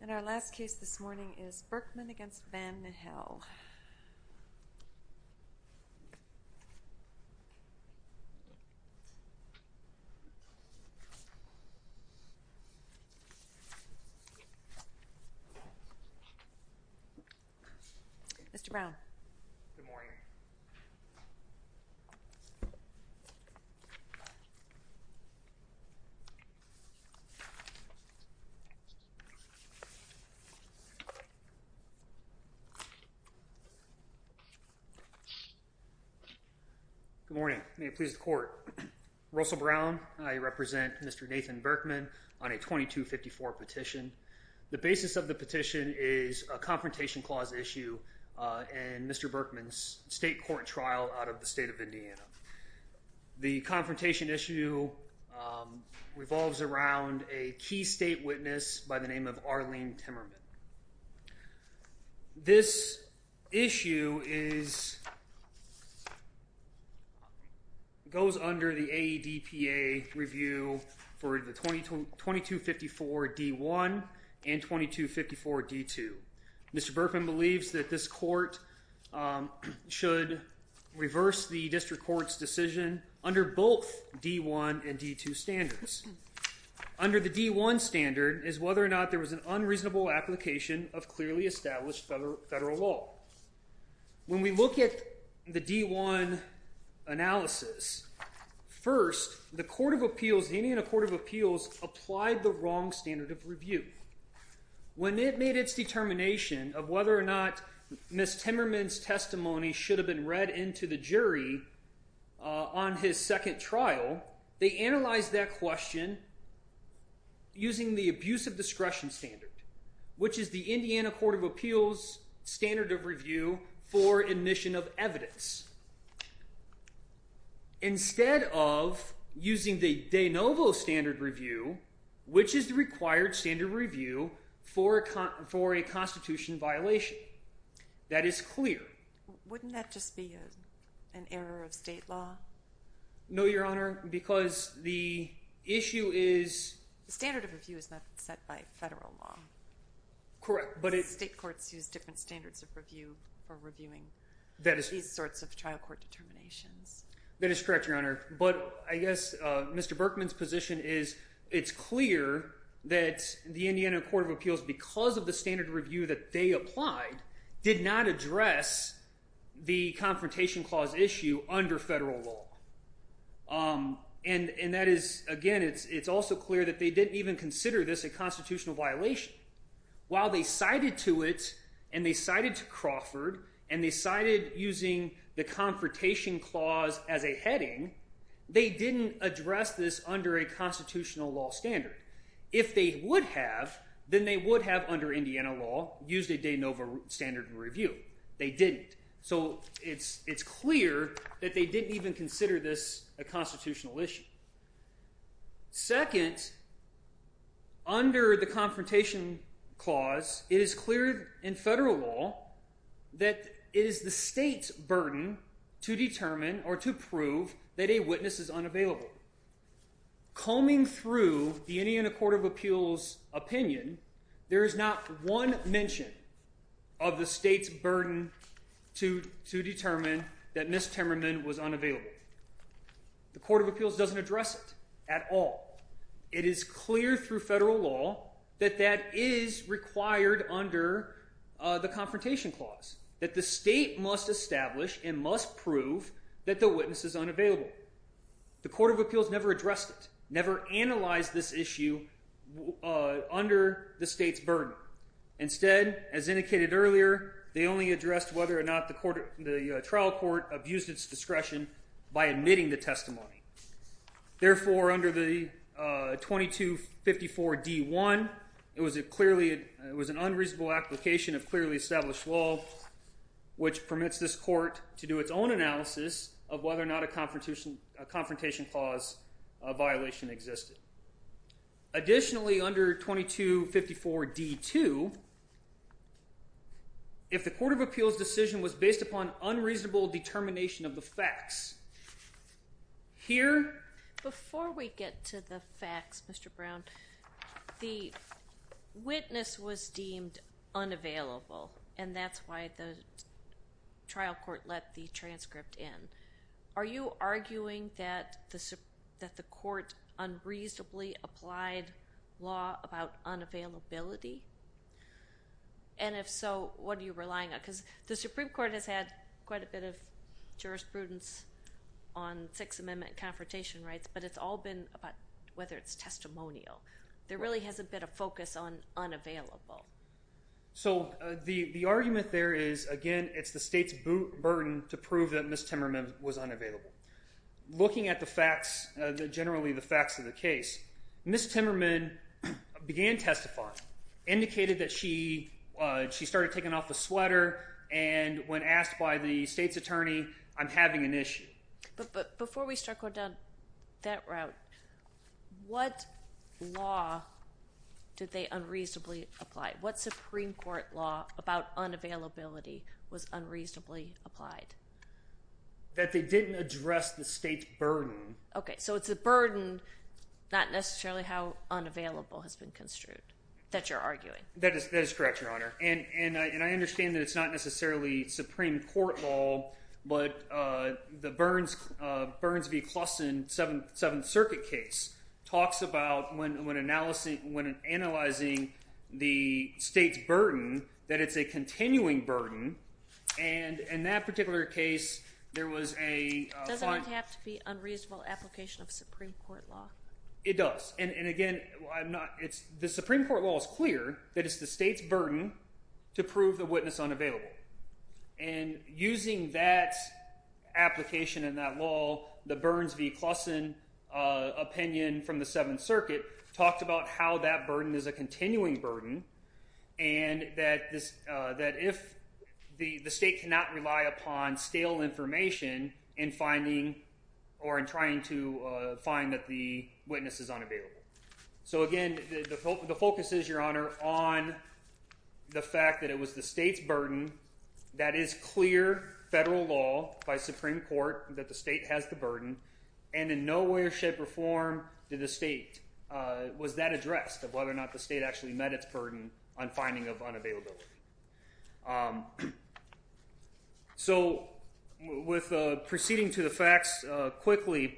And our last case this morning is Berkman v. Vanihel. Mr. Brown. Good morning. May it please the court, Russell Brown, I represent Mr. Nathan Berkman on a 2254 petition. The basis of the petition is a confrontation clause issue in Mr. Berkman's state court trial out of the state of Indiana. The confrontation issue revolves around a key state witness by the name of Arlene Timmerman. This issue goes under the AEDPA review for the 2254 D1 and 2254 D2. Mr. Berkman believes that this court should reverse the district court's decision under both D1 and D2 standards. Under the D1 standard is whether or not there was an unreasonable application of clearly established federal law. When we look at the D1 analysis, first, the court of appeals, the Indiana court of appeals, applied the wrong standard of review. When it made its determination of whether or not Ms. Timmerman's testimony should have been read into the jury on his second trial, they analyzed that question using the abuse of discretion standard, which is the Indiana court of appeals standard of review for admission of evidence. Instead of using the de novo standard review, which is the required standard review for a constitution violation. That is clear. Wouldn't that just be an error of state law? No, Your Honor, because the issue is... The standard of review is not set by federal law. State courts use different standards of review for reviewing these sorts of trial court determinations. That is correct, Your Honor, but I guess Mr. Berkman's position is it's clear that the Indiana court of appeals, because of the standard review that they applied, did not address the confrontation clause issue under federal law. And that is, again, it's also clear that they didn't even consider this a constitutional violation. While they cited to it, and they cited to Crawford, and they cited using the confrontation clause as a heading, they didn't address this under a constitutional law standard. If they would have, then they would have, under Indiana law, used a de novo standard of review. They didn't. So it's clear that they didn't even consider this a constitutional issue. Second, under the confrontation clause, it is clear in federal law that it is the state's burden to determine or to prove that a witness is unavailable. Combing through the Indiana court of appeals opinion, there is not one mention of the state's burden to determine that Ms. Timmerman was unavailable. The court of appeals doesn't address it at all. It is clear through federal law that that is required under the confrontation clause, that the state must establish and must prove that the witness is unavailable. The court of appeals never addressed it, never analyzed this issue under the state's burden. Instead, as indicated earlier, they only addressed whether or not the trial court abused its discretion by admitting the testimony. Therefore, under the 2254D1, it was an unreasonable application of clearly established law, which permits this court to do its own analysis of whether or not a confrontation clause violation existed. Additionally, under 2254D2, if the court of appeals decision was based upon unreasonable determination of the facts, here... Before we get to the facts, Mr. Brown, the witness was deemed unavailable, and that's why the trial court let the transcript in. Are you arguing that the court unreasonably applied law about unavailability? And if so, what are you relying on? Because the Supreme Court has had quite a bit of jurisprudence on Sixth Amendment confrontation rights, but it's all been about whether it's testimonial. There really hasn't been a focus on unavailable. So the argument there is, again, it's the state's burden to prove that Ms. Timmerman was unavailable. Looking at the facts, generally the facts of the case, Ms. Timmerman began testifying, indicated that she started taking off the sweater, and when asked by the state's attorney, I'm having an issue. But before we start going down that route, what law did they unreasonably apply? What Supreme Court law about unavailability was unreasonably applied? That they didn't address the state's burden. Okay. So it's the burden, not necessarily how unavailable, has been construed that you're arguing. That is correct, Your Honor. And I understand that it's not necessarily Supreme Court law, but the Burns v. Claussen Seventh Circuit case talks about when analyzing the state's burden that it's a continuing burden, and in that particular case there was a fine. Doesn't it have to be unreasonable application of Supreme Court law? It does. And again, the Supreme Court law is clear that it's the state's burden to prove the witness unavailable. And using that application and that law, the Burns v. Claussen opinion from the Seventh Circuit talks about how that burden is a continuing burden, and that if the state cannot rely upon stale information in finding or in trying to find that the witness is unavailable. So again, the focus is, Your Honor, on the fact that it was the state's burden, that is clear federal law by Supreme Court that the state has the burden, and in no way or shape or form did the state, was that addressed, of whether or not the state actually met its burden on finding of unavailability. So proceeding to the facts quickly,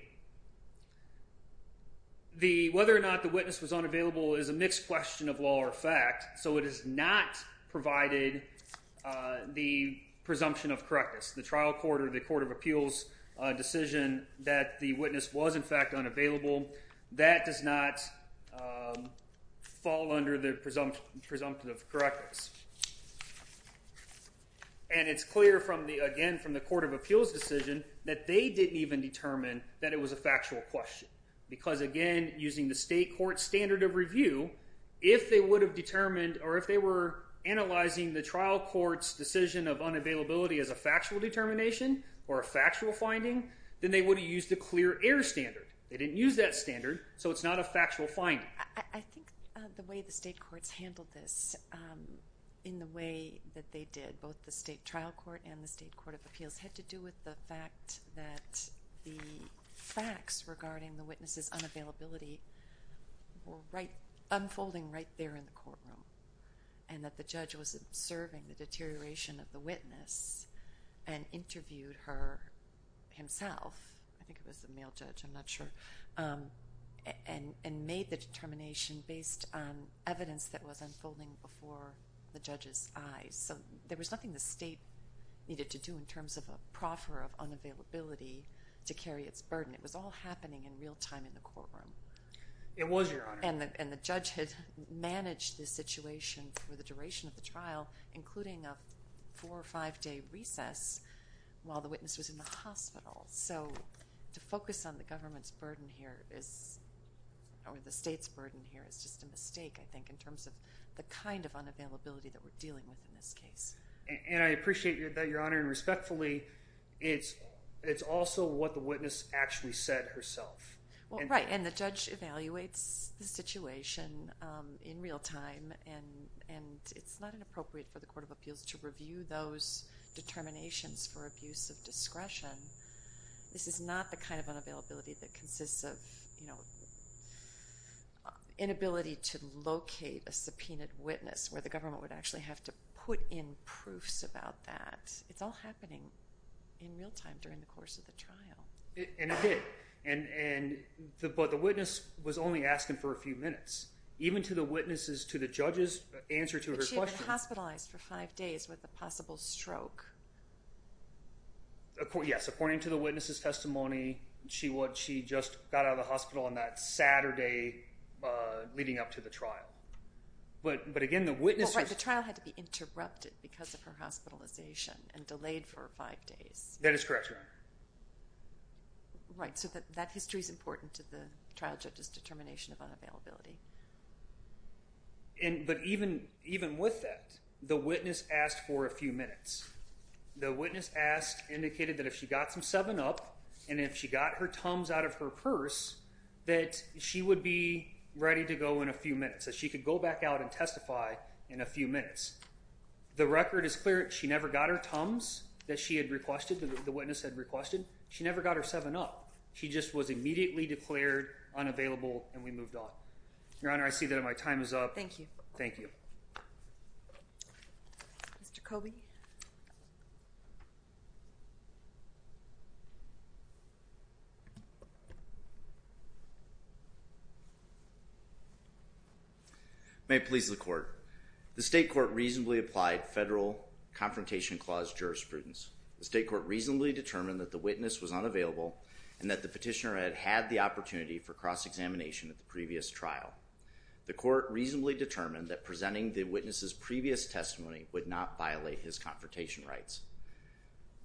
whether or not the witness was unavailable is a mixed question of law or fact, so it has not provided the presumption of correctness. The trial court or the court of appeals decision that the witness was in fact unavailable, that does not fall under the presumption of correctness. And it's clear from the, again, from the court of appeals decision that they didn't even determine that it was a factual question. Because again, using the state court standard of review, if they would have determined, or if they were analyzing the trial court's decision of unavailability as a factual determination or a factual finding, then they would have used the clear air standard. They didn't use that standard, so it's not a factual finding. I think the way the state courts handled this in the way that they did, both the state trial court and the state court of appeals, had to do with the fact that the facts regarding the witness's unavailability were unfolding right there in the courtroom, and that the judge was observing the deterioration of the witness and interviewed her himself. I think it was a male judge. I'm not sure. And made the determination based on evidence that was unfolding before the judge's eyes. So there was nothing the state needed to do in terms of a proffer of unavailability to carry its burden. It was all happening in real time in the courtroom. It was, Your Honor. And the judge had managed the situation for the duration of the trial, including a four- or five-day recess while the witness was in the hospital. So to focus on the government's burden here is, or the state's burden here, is just a mistake, I think, in terms of the kind of unavailability that we're dealing with in this case. And I appreciate that, Your Honor, and respectfully, it's also what the witness actually said herself. Well, right, and the judge evaluates the situation in real time, and it's not inappropriate for the court of appeals to review those determinations for abuse of discretion. This is not the kind of unavailability that consists of, you know, inability to locate a subpoenaed witness where the government would actually have to put in proofs about that. It's all happening in real time during the course of the trial. And it did, but the witness was only asking for a few minutes. Even to the witnesses, to the judge's answer to her question. But she had been hospitalized for five days with a possible stroke. Yes, according to the witness's testimony, she just got out of the hospital on that Saturday leading up to the trial. But again, the witness was… Well, right, the trial had to be interrupted because of her hospitalization and delayed for five days. That is correct, Your Honor. Right, so that history is important to the trial judge's determination of unavailability. But even with that, the witness asked for a few minutes. The witness asked, indicated that if she got some seven up, and if she got her thumbs out of her purse, that she would be ready to go in a few minutes, that she could go back out and testify in a few minutes. The record is clear. She never got her thumbs that she had requested, that the witness had requested. She never got her seven up. She just was immediately declared unavailable, and we moved on. Your Honor, I see that my time is up. Thank you. Thank you. Mr. Coby. May it please the Court. The State Court reasonably applied Federal Confrontation Clause jurisprudence. The State Court reasonably determined that the witness was unavailable and that the petitioner had had the opportunity for cross-examination at the previous trial. The Court reasonably determined that presenting the witness's previous testimony would not violate his confrontation rights.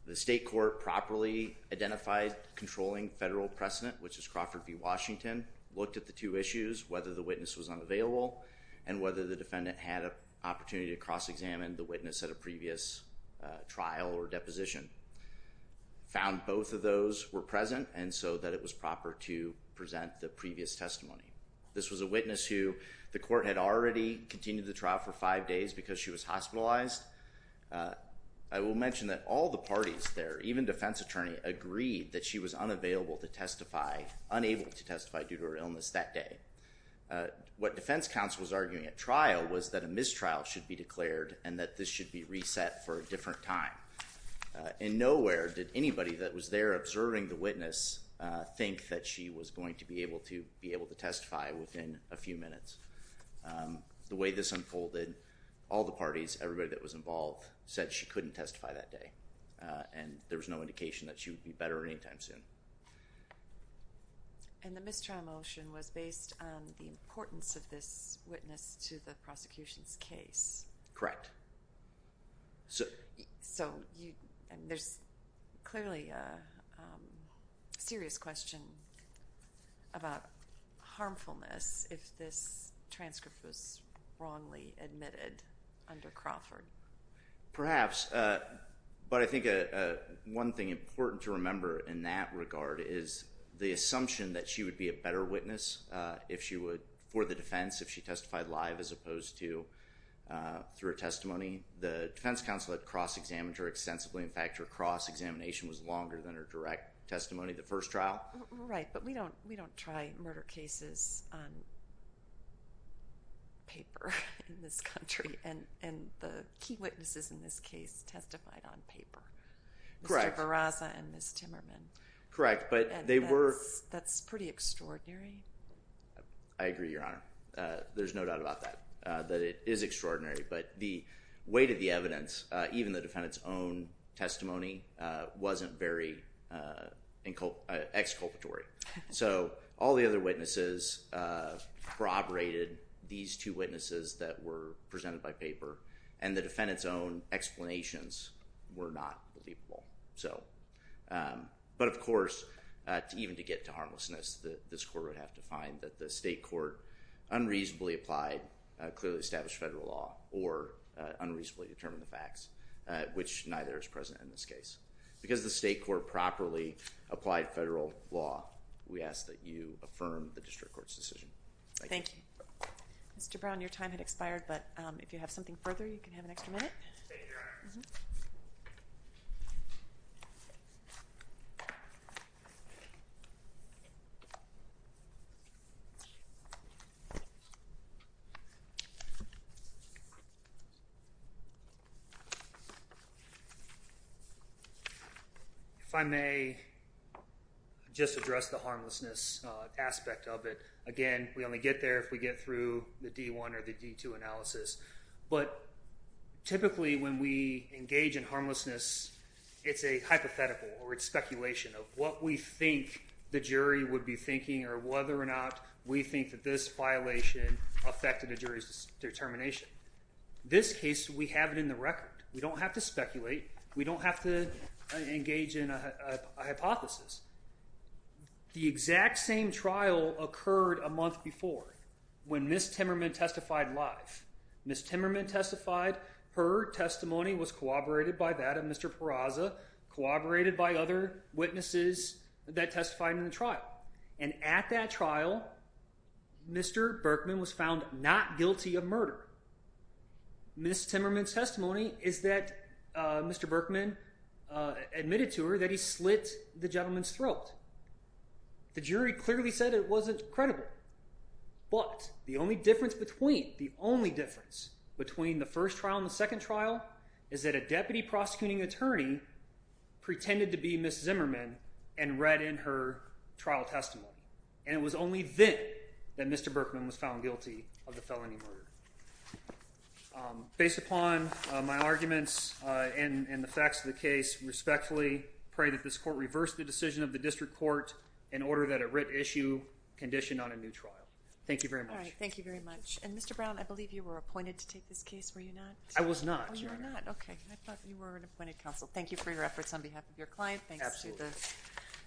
The State Court properly identified controlling federal precedent, which is Crawford v. Washington, looked at the two issues, whether the witness was unavailable and whether the defendant had an opportunity to cross-examine the witness at a previous trial or deposition, found both of those were present, and so that it was proper to present the previous testimony. This was a witness who the Court had already continued the trial for five days because she was hospitalized. I will mention that all the parties there, even defense attorney, agreed that she was unavailable to testify, unable to testify due to her illness that day. What defense counsel was arguing at trial was that a mistrial should be declared and that this should be reset for a different time. In nowhere did anybody that was there observing the witness think that she was going to be able to testify within a few minutes. The way this unfolded, all the parties, everybody that was involved, said she couldn't testify that day and there was no indication that she would be better any time soon. And the mistrial motion was based on the importance of this witness to the prosecution's case. Correct. So there's clearly a serious question about harmfulness if this transcript was wrongly admitted under Crawford. Perhaps. But I think one thing important to remember in that regard is the assumption that she would be a better witness for the defense if she testified live as opposed to through a testimony. The defense counsel had cross-examined her extensively. In fact, her cross-examination was longer than her direct testimony at the first trial. Right, but we don't try murder cases on paper in this country. And the key witnesses in this case testified on paper. Mr. Barraza and Ms. Timmerman. Correct. And that's pretty extraordinary. I agree, Your Honor. There's no doubt about that, that it is extraordinary. But the weight of the evidence, even the defendant's own testimony, wasn't very exculpatory. So all the other witnesses corroborated these two witnesses that were presented by paper. And the defendant's own explanations were not believable. But of course, even to get to harmlessness, this court would have to find that the state court unreasonably applied clearly established federal law or unreasonably determined the facts, which neither is present in this case. Because the state court properly applied federal law, we ask that you affirm the district court's decision. Thank you. Thank you. Mr. Brown, your time had expired, but if you have something further, you can have an extra minute. Thank you, Your Honor. If I may just address the harmlessness aspect of it. Again, we only get there if we get through the D1 or the D2 analysis. But typically when we engage in harmlessness, it's a hypothetical or it's speculation of what we think the jury would be thinking or whether or not we think that this violation affected the jury's determination. This case, we have it in the record. We don't have to speculate. We don't have to engage in a hypothesis. The exact same trial occurred a month before when Ms. Timmerman testified live. Ms. Timmerman testified. Her testimony was corroborated by that of Mr. Peraza, corroborated by other witnesses that testified in the trial. And at that trial, Mr. Berkman was found not guilty of murder. Ms. Timmerman's testimony is that Mr. Berkman admitted to her that he slit the gentleman's throat. The jury clearly said it wasn't credible. But the only difference between the first trial and the second trial is that a deputy prosecuting attorney pretended to be Ms. Zimmerman and read in her trial testimony. And it was only then that Mr. Berkman was found guilty of the felony murder. Based upon my arguments and the facts of the case, respectfully pray that this court reverse the decision of the district court in order that a writ issue conditioned on a new trial. Thank you very much. All right. Thank you very much. And, Mr. Brown, I believe you were appointed to take this case, were you not? I was not, Your Honor. Oh, you were not. Okay. I thought you were an appointed counsel. Thank you for your efforts on behalf of your client. Absolutely. Thanks to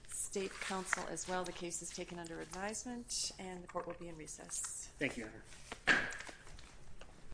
the State Council as well. The case is taken under advisement and the court will be in recess.